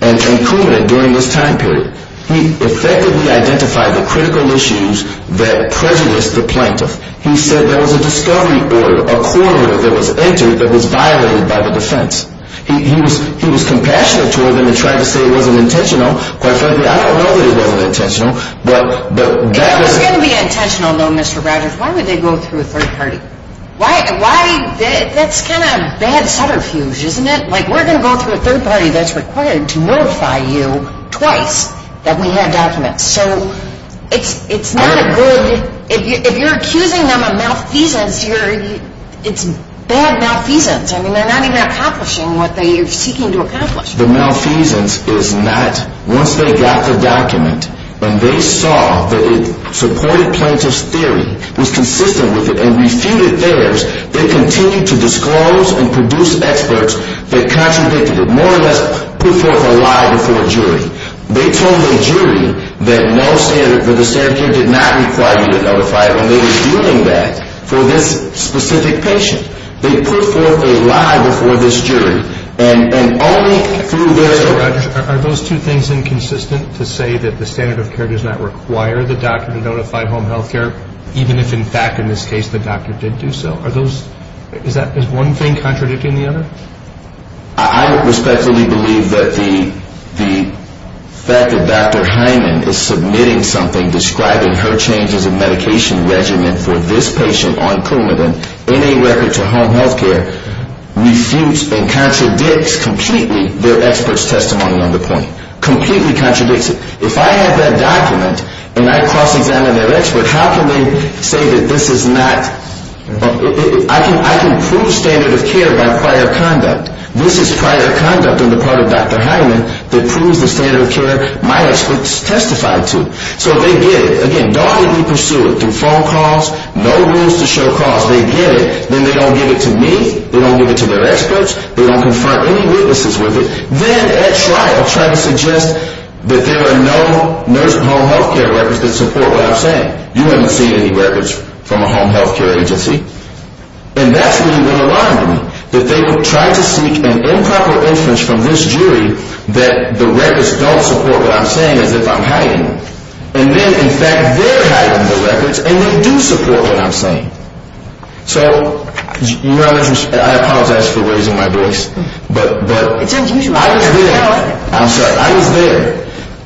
and incumbent during this time period. He effectively identified the critical issues that prejudiced the plaintiff. He said there was a discovery order, a court order that was entered that was violated by the defense. He was compassionate toward them and tried to say it wasn't intentional. Quite frankly, I don't know that it wasn't intentional. If it was going to be intentional, though, Mr. Rogers, why would they go through a third party? That's kind of a bad subterfuge, isn't it? Like, we're going to go through a third party that's required to notify you twice that we have documents. So it's not a good – if you're accusing them of malfeasance, it's bad malfeasance. I mean, they're not even accomplishing what they're seeking to accomplish. The malfeasance is not once they got the document and they saw that it supported plaintiff's theory, was consistent with it, and refuted theirs, they continued to disclose and produce experts that contradicted it, more or less put forth a lie before a jury. They told the jury that the standard of care did not require you to notify, and they were doing that for this specific patient. They put forth a lie before this jury, and only through this – Mr. Rogers, are those two things inconsistent to say that the standard of care does not require the doctor to notify home health care, even if, in fact, in this case the doctor did do so? Are those – is that – is one thing contradicting the other? I respectfully believe that the fact that Dr. Hyman is submitting something describing her changes of medication regimen for this patient on Coumadin in a record to home health care refutes and contradicts completely their expert's testimony on the point, completely contradicts it. If I have that document and I cross-examine their expert, how can they say that this is not – I can prove standard of care by prior conduct. This is prior conduct on the part of Dr. Hyman that proves the standard of care my experts testified to. So they get it. Again, don't even pursue it. Through phone calls, no rules to show calls, they get it. Then they don't give it to me, they don't give it to their experts, they don't confront any witnesses with it. Then, at trial, trying to suggest that there are no home health care records that support what I'm saying. You haven't seen any records from a home health care agency. And that's really been alarming, that they try to seek an improper inference from this jury that the records don't support what I'm saying as if I'm hiding. And then, in fact, they're hiding the records and they do support what I'm saying. So, you know, I apologize for raising my voice, but – I was there. I'm sorry. I was there.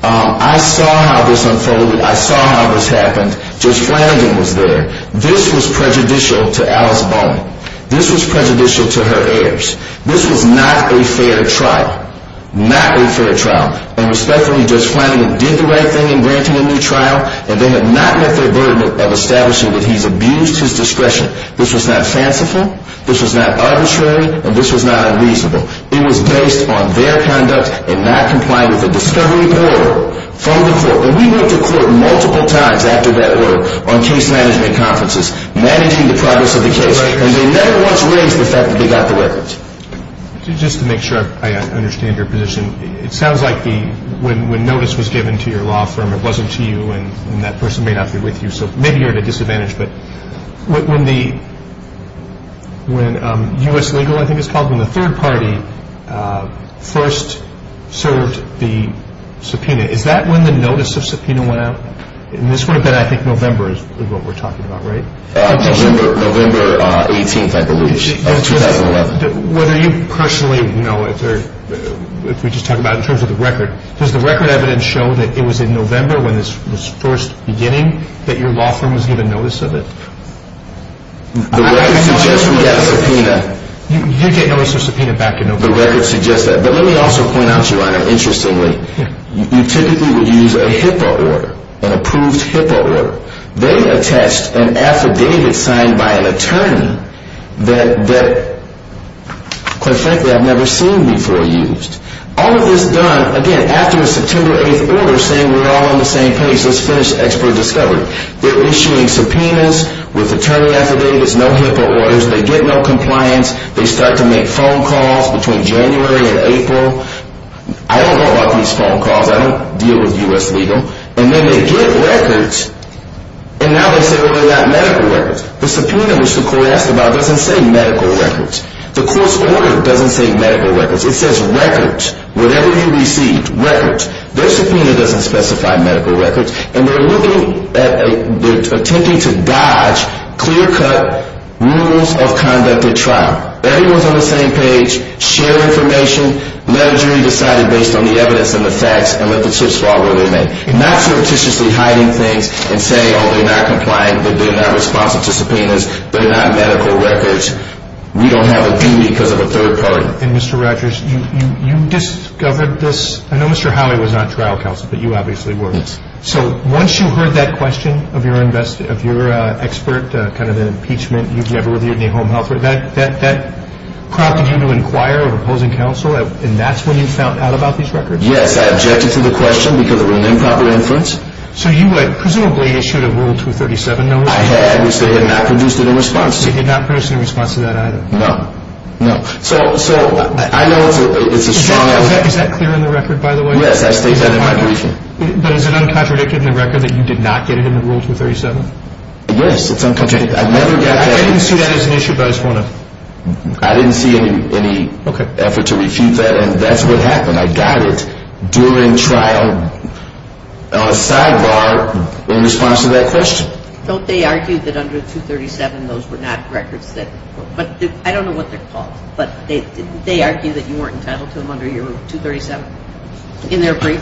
I saw how this unfolded. I saw how this happened. Judge Flanagan was there. This was prejudicial to Alice Bowman. This was prejudicial to her heirs. This was not a fair trial. Not a fair trial. And respectfully, Judge Flanagan did the right thing in granting a new trial, and they have not met their burden of establishing that he's abused his discretion. This was not fanciful, this was not arbitrary, and this was not unreasonable. It was based on their conduct and not complying with the discovery of the order from the court. And we went to court multiple times after that order on case management conferences, managing the progress of the case, and they never once raised the fact that they got the records. Just to make sure I understand your position, it sounds like when notice was given to your law firm, it wasn't to you, and that person may not be with you, so maybe you're at a disadvantage. But when U.S. Legal, I think it's called, when the third party first served the subpoena, is that when the notice of subpoena went out? This would have been, I think, November is what we're talking about, right? November 18th, I believe, of 2011. Whether you personally know, if we just talk about it in terms of the record, does the record evidence show that it was in November when this was first beginning that your law firm was given notice of it? The record suggests we got a subpoena. You get notice of subpoena back in November. The record suggests that. But let me also point out, Your Honor, interestingly, you typically would use a HIPAA order, an approved HIPAA order. They attached an affidavit signed by an attorney that, quite frankly, I've never seen before used. All of this done, again, after a September 8th order saying we're all on the same page, let's finish expert discovery. They're issuing subpoenas with attorney affidavits, no HIPAA orders. They get no compliance. They start to make phone calls between January and April. I don't know about these phone calls. I don't deal with U.S. legal. And then they get records, and now they say, well, they got medical records. The subpoena, which the court asked about, doesn't say medical records. The court's order doesn't say medical records. It says records, whatever you received, records. Their subpoena doesn't specify medical records. And they're attempting to dodge clear-cut rules of conduct at trial. Everyone's on the same page, share information, let a jury decide based on the evidence and the facts, and let the chips fall where they may. Not surreptitiously hiding things and saying, oh, they're not compliant, they're not responsive to subpoenas, they're not medical records. We don't have a duty because of a third party. And, Mr. Rogers, you discovered this. I know Mr. Howey was not trial counsel, but you obviously were. Yes. So once you heard that question of your expert, kind of an impeachment, you've never reviewed any home health record, that prompted you to inquire of opposing counsel, and that's when you found out about these records? Yes. I objected to the question because it was an improper inference. So you had presumably issued a Rule 237 notice. I had, which they had not produced any response to. They did not produce any response to that either. No. No. So I know it's a strong evidence. Is that clear in the record, by the way? Yes, I state that in my brief. But is it uncontradicted in the record that you did not get it in the Rule 237? Yes, it's uncontradicted. I've never got that. I didn't see that as an issue, but I just want to. I didn't see any effort to refute that, and that's what happened. I got it during trial, on a sidebar, in response to that question. Don't they argue that under 237 those were not records? I don't know what they're called, but they argue that you weren't entitled to them under your Rule 237 in their brief?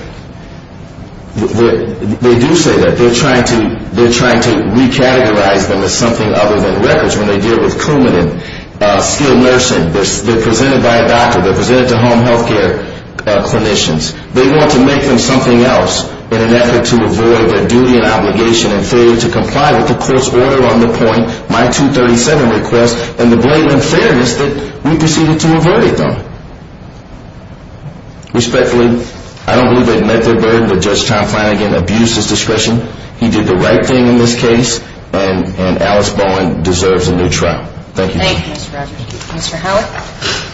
They do say that. They're trying to recategorize them as something other than records when they deal with crewmen and skilled nursing. They're presented by a doctor. They're presented to home health care clinicians. They want to make them something else in an effort to avoid their duty and obligation and failure to comply with the court's order on the point, my 237 request, and the blatant unfairness that we proceeded to avert it, though. Respectfully, I don't believe they've met their burden, but Judge Tom Flanagan abused his discretion. He did the right thing in this case, and Alice Bowen deserves a new trial. Thank you. Thank you, Mr. Rogers. Mr. Howard?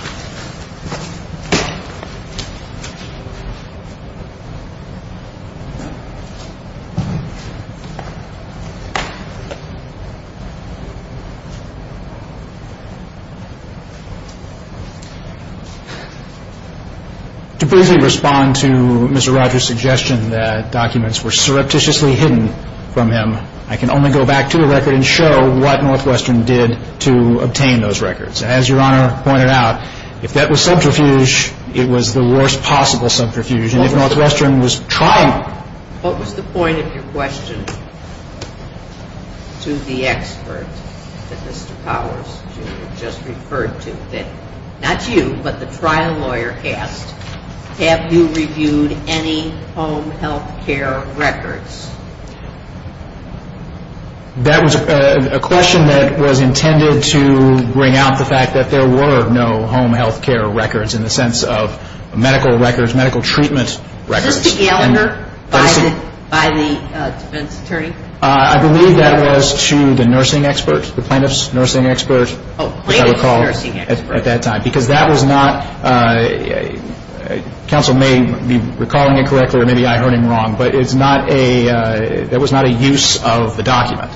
To briefly respond to Mr. Rogers' suggestion that documents were surreptitiously hidden from him, I can only go back to the record and show what Northwestern did to obtain those records. As Your Honor pointed out, if that was subterfuge, it was the worst possible subterfuge. And if Northwestern was trying to- What was the point of your question to the experts? That Mr. Powers just referred to. Not you, but the trial lawyer asked, have you reviewed any home health care records? That was a question that was intended to bring out the fact that there were no home health care records in the sense of medical records, medical treatment records. Was this to Gallagher by the defense attorney? I believe that was to the nursing expert, the plaintiff's nursing expert, which I recall at that time. Oh, plaintiff's nursing expert. Because that was not- counsel may be recalling it correctly or maybe I heard him wrong, but that was not a use of the document.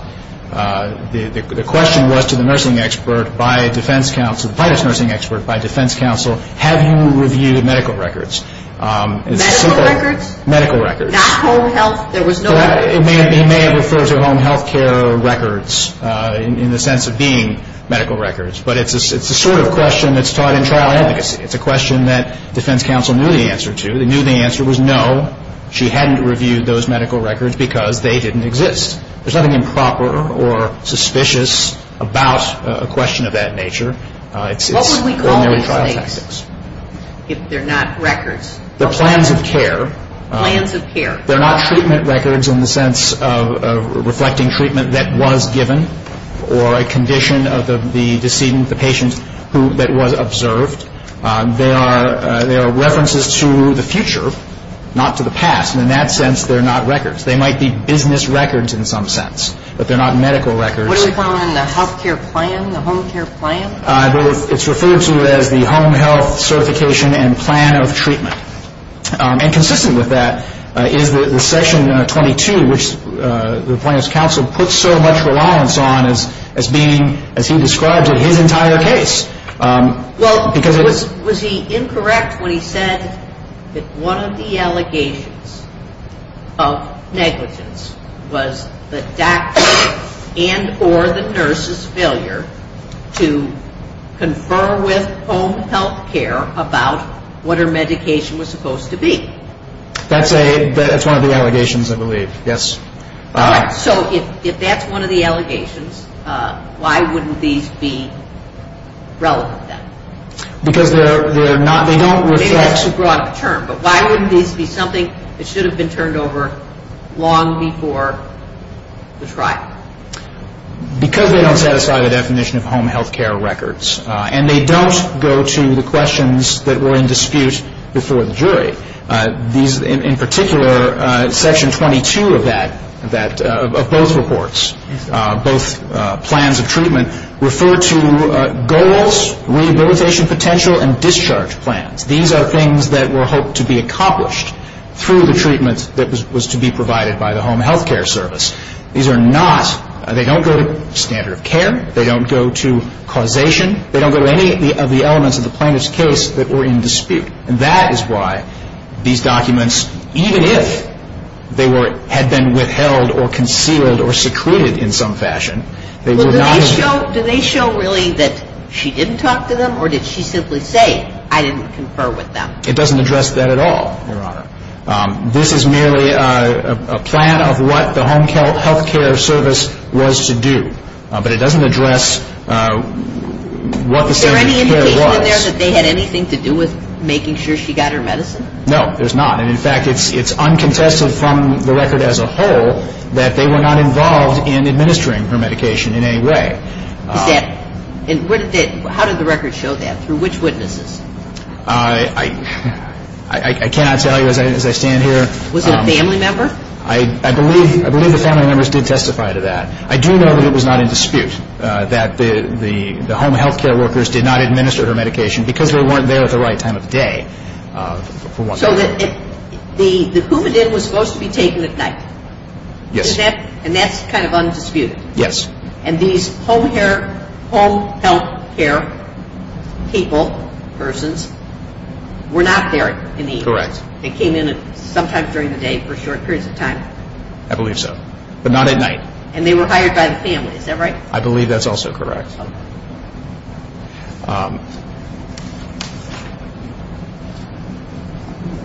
The question was to the nursing expert by defense counsel, the plaintiff's nursing expert by defense counsel, have you reviewed medical records? Medical records? Medical records. Not home health? There was no records? He may have referred to home health care records in the sense of being medical records, but it's the sort of question that's taught in trial advocacy. It's a question that defense counsel knew the answer to. They knew the answer was no. She hadn't reviewed those medical records because they didn't exist. There's nothing improper or suspicious about a question of that nature. What would we call these things if they're not records? They're plans of care. Plans of care. They're not treatment records in the sense of reflecting treatment that was given or a condition of the decedent, the patient that was observed. They are references to the future, not to the past. And in that sense, they're not records. They might be business records in some sense, but they're not medical records. What do we call them in the health care plan, the home care plan? It's referred to as the home health certification and plan of treatment. And consistent with that is the section 22, which the plaintiff's counsel puts so much reliance on as being, as he described it, his entire case. Well, was he incorrect when he said that one of the allegations of negligence was the doctor and or the nurse's failure to confer with home health care about what her medication was supposed to be? That's one of the allegations, I believe, yes. So if that's one of the allegations, why wouldn't these be relevant then? Because they're not, they don't reflect. Maybe that's a broad term, but why wouldn't these be something that should have been turned over long before the trial? Because they don't satisfy the definition of home health care records. And they don't go to the questions that were in dispute before the jury. In particular, section 22 of both reports, both plans of treatment, refer to goals, rehabilitation potential, and discharge plans. These are things that were hoped to be accomplished through the treatment that was to be provided by the home health care service. These are not, they don't go to standard of care. They don't go to causation. They don't go to any of the elements of the plaintiff's case that were in dispute. And that is why these documents, even if they had been withheld or concealed or secreted in some fashion, they were not- Do they show really that she didn't talk to them, or did she simply say, I didn't confer with them? It doesn't address that at all, Your Honor. This is merely a plan of what the home health care service was to do. But it doesn't address what the standard of care was. Is there any indication in there that they had anything to do with making sure she got her medicine? No, there's not. And, in fact, it's uncontested from the record as a whole that they were not involved in administering her medication in any way. How did the record show that? Through which witnesses? I cannot tell you as I stand here. Was it a family member? I believe the family members did testify to that. I do know that it was not in dispute that the home health care workers did not administer her medication because they weren't there at the right time of day. So the Coumadin was supposed to be taken at night? Yes. And that's kind of undisputed? Yes. And these home health care people, persons, were not there in the evening? Correct. They came in sometimes during the day for short periods of time? I believe so. But not at night. And they were hired by the family, is that right? I believe that's also correct.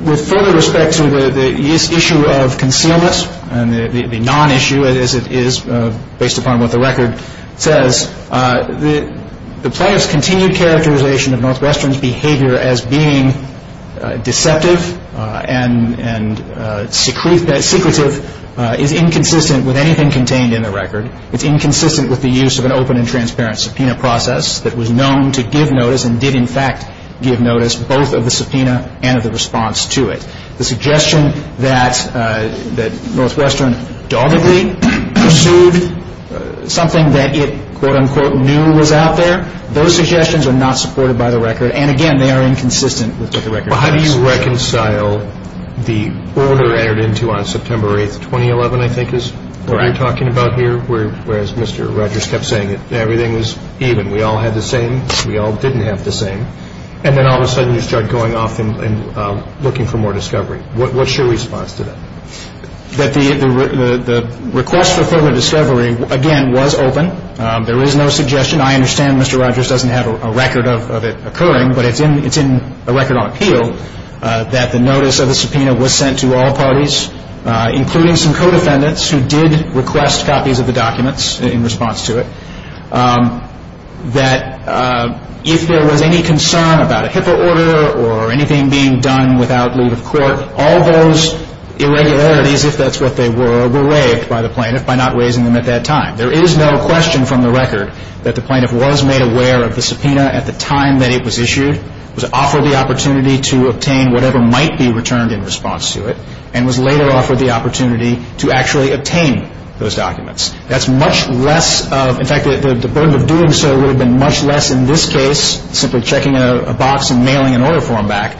With further respect to the issue of concealment, the non-issue as it is based upon what the record says, the plaintiff's continued characterization of Northwestern's behavior as being deceptive and secretive is inconsistent with anything contained in the record. It's inconsistent with the use of an open and transparent subpoena process that was known to give notice and did, in fact, give notice, both of the subpoena and of the response to it. The suggestion that Northwestern doggedly pursued something that it, quote, unquote, knew was out there, those suggestions are not supported by the record. And, again, they are inconsistent with what the record says. Well, how do you reconcile the order entered into on September 8, 2011, I think is what we're talking about here, whereas Mr. Rogers kept saying that everything was even, we all had the same, we all didn't have the same, and then all of a sudden you start going off and looking for more discovery. What's your response to that? That the request for further discovery, again, was open. There is no suggestion. I understand Mr. Rogers doesn't have a record of it occurring, but it's in a record on appeal that the notice of the subpoena was sent to all parties, including some co-defendants who did request copies of the documents in response to it, that if there was any concern about a HIPAA order or anything being done without leave of court, all those irregularities, if that's what they were, were waived by the plaintiff by not waiving them at that time. There is no question from the record that the plaintiff was made aware of the subpoena at the time that it was issued, was offered the opportunity to obtain whatever might be returned in response to it, and was later offered the opportunity to actually obtain those documents. That's much less of, in fact, the burden of doing so would have been much less in this case, simply checking a box and mailing an order form back,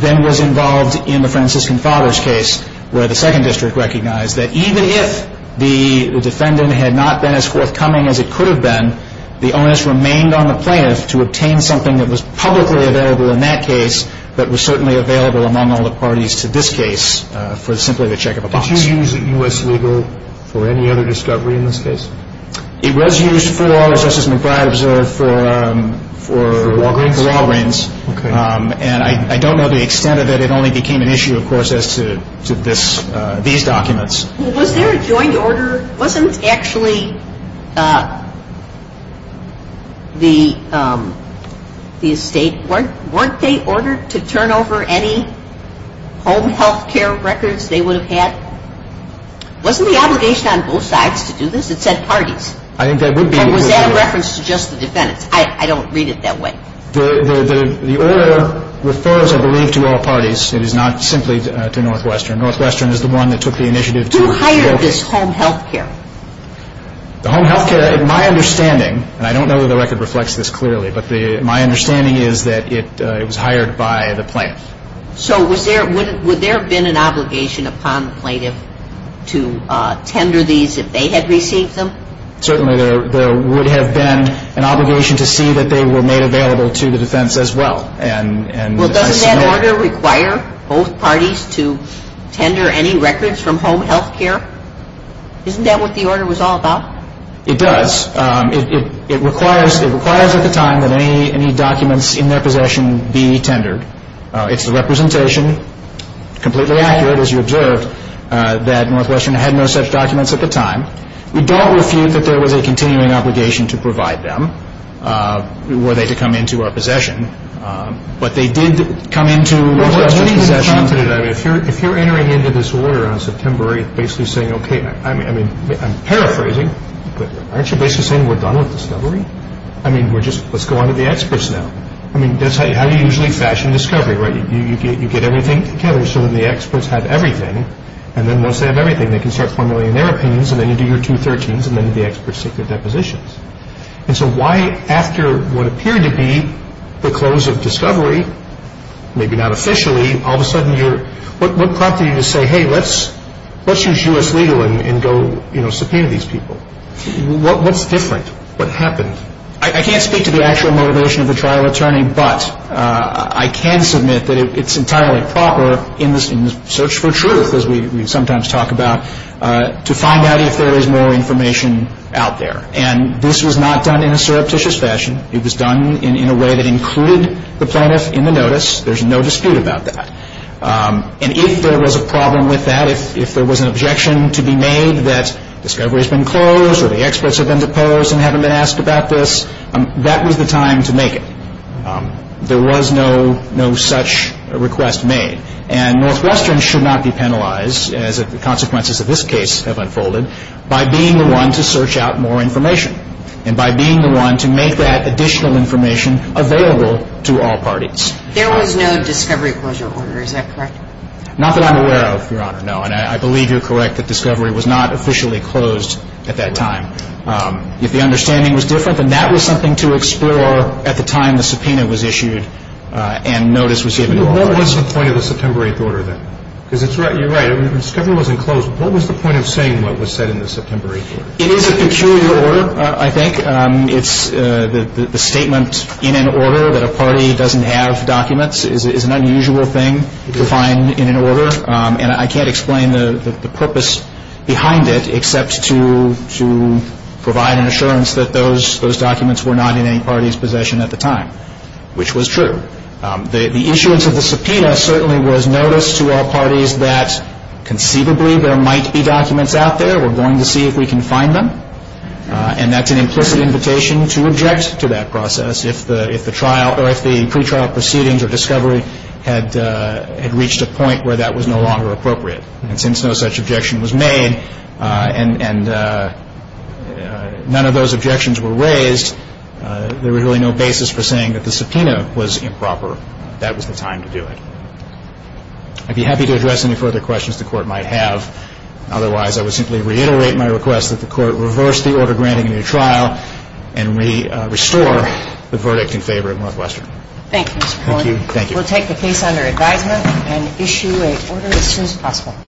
than was involved in the Franciscan Fathers case, where the Second District recognized that even if the defendant had not been as forthcoming as it could have been, the onus remained on the plaintiff to obtain something that was publicly available in that case, but was certainly available among all the parties to this case for simply the check of a box. Did you use U.S. Legal for any other discovery in this case? It was used for, as Justice McBride observed, for... For Walgreens? For Walgreens. Okay. And I don't know the extent of it. It only became an issue, of course, as to these documents. Was there a joint order? Wasn't actually the estate... Weren't they ordered to turn over any home health care records they would have had? Wasn't the obligation on both sides to do this? It said parties. I think that would be... Or was that a reference to just the defendants? I don't read it that way. The order refers, I believe, to all parties. It is not simply to Northwestern. Northwestern is the one that took the initiative to... Who hired this home health care? The home health care, in my understanding, and I don't know that the record reflects this clearly, but my understanding is that it was hired by the plaintiff. So would there have been an obligation upon the plaintiff to tender these if they had received them? Certainly there would have been an obligation to see that they were made available to the defense as well. Well, doesn't that order require both parties to tender any records from home health care? Isn't that what the order was all about? It does. It requires at the time that any documents in their possession be tendered. It's the representation, completely accurate, as you observed, that Northwestern had no such documents at the time. We don't refute that there was a continuing obligation to provide them were they to come into our possession, but they did come into Northwestern's possession. If you're entering into this order on September 8th basically saying, okay, I'm paraphrasing, but aren't you basically saying we're done with discovery? I mean, let's go on to the experts now. I mean, that's how you usually fashion discovery, right? You get everything together so that the experts have everything, and then once they have everything, they can start formulating their opinions, and then you do your 213s, and then the experts take their depositions. And so why, after what appeared to be the close of discovery, maybe not officially, all of a sudden you're, what prompted you to say, hey, let's use U.S. legal and go, you know, subpoena these people? What's different? What happened? I can't speak to the actual motivation of the trial attorney, but I can submit that it's entirely proper in the search for truth, as we sometimes talk about, to find out if there is more information out there. And this was not done in a surreptitious fashion. It was done in a way that included the plaintiff in the notice. There's no dispute about that. And if there was a problem with that, if there was an objection to be made that discovery has been closed or the experts have been deposed and haven't been asked about this, that was the time to make it. There was no such request made. And Northwestern should not be penalized, as the consequences of this case have unfolded, by being the one to search out more information and by being the one to make that additional information available to all parties. There was no discovery closure order, is that correct? Not that I'm aware of, Your Honor, no. And I believe you're correct that discovery was not officially closed at that time. If the understanding was different, then that was something to explore at the time the subpoena was issued and notice was given to all parties. What was the point of the September 8th order then? Because you're right, discovery wasn't closed. What was the point of saying what was said in the September 8th order? It is a peculiar order, I think. It's the statement in an order that a party doesn't have documents is an unusual thing to find in an order. And I can't explain the purpose behind it except to provide an assurance that those documents were not in any party's possession at the time, which was true. The issuance of the subpoena certainly was notice to all parties that conceivably there might be documents out there. We're going to see if we can find them. And that's an implicit invitation to object to that process. If the trial or if the pretrial proceedings or discovery had reached a point where that was no longer appropriate and since no such objection was made and none of those objections were raised, there was really no basis for saying that the subpoena was improper. That was the time to do it. I'd be happy to address any further questions the Court might have. Otherwise, I would simply reiterate my request that the Court reverse the order granting a new trial and restore the verdict in favor of Northwestern. Thank you, Mr. Pollack. Thank you. We'll take the case under advisement and issue an order as soon as possible.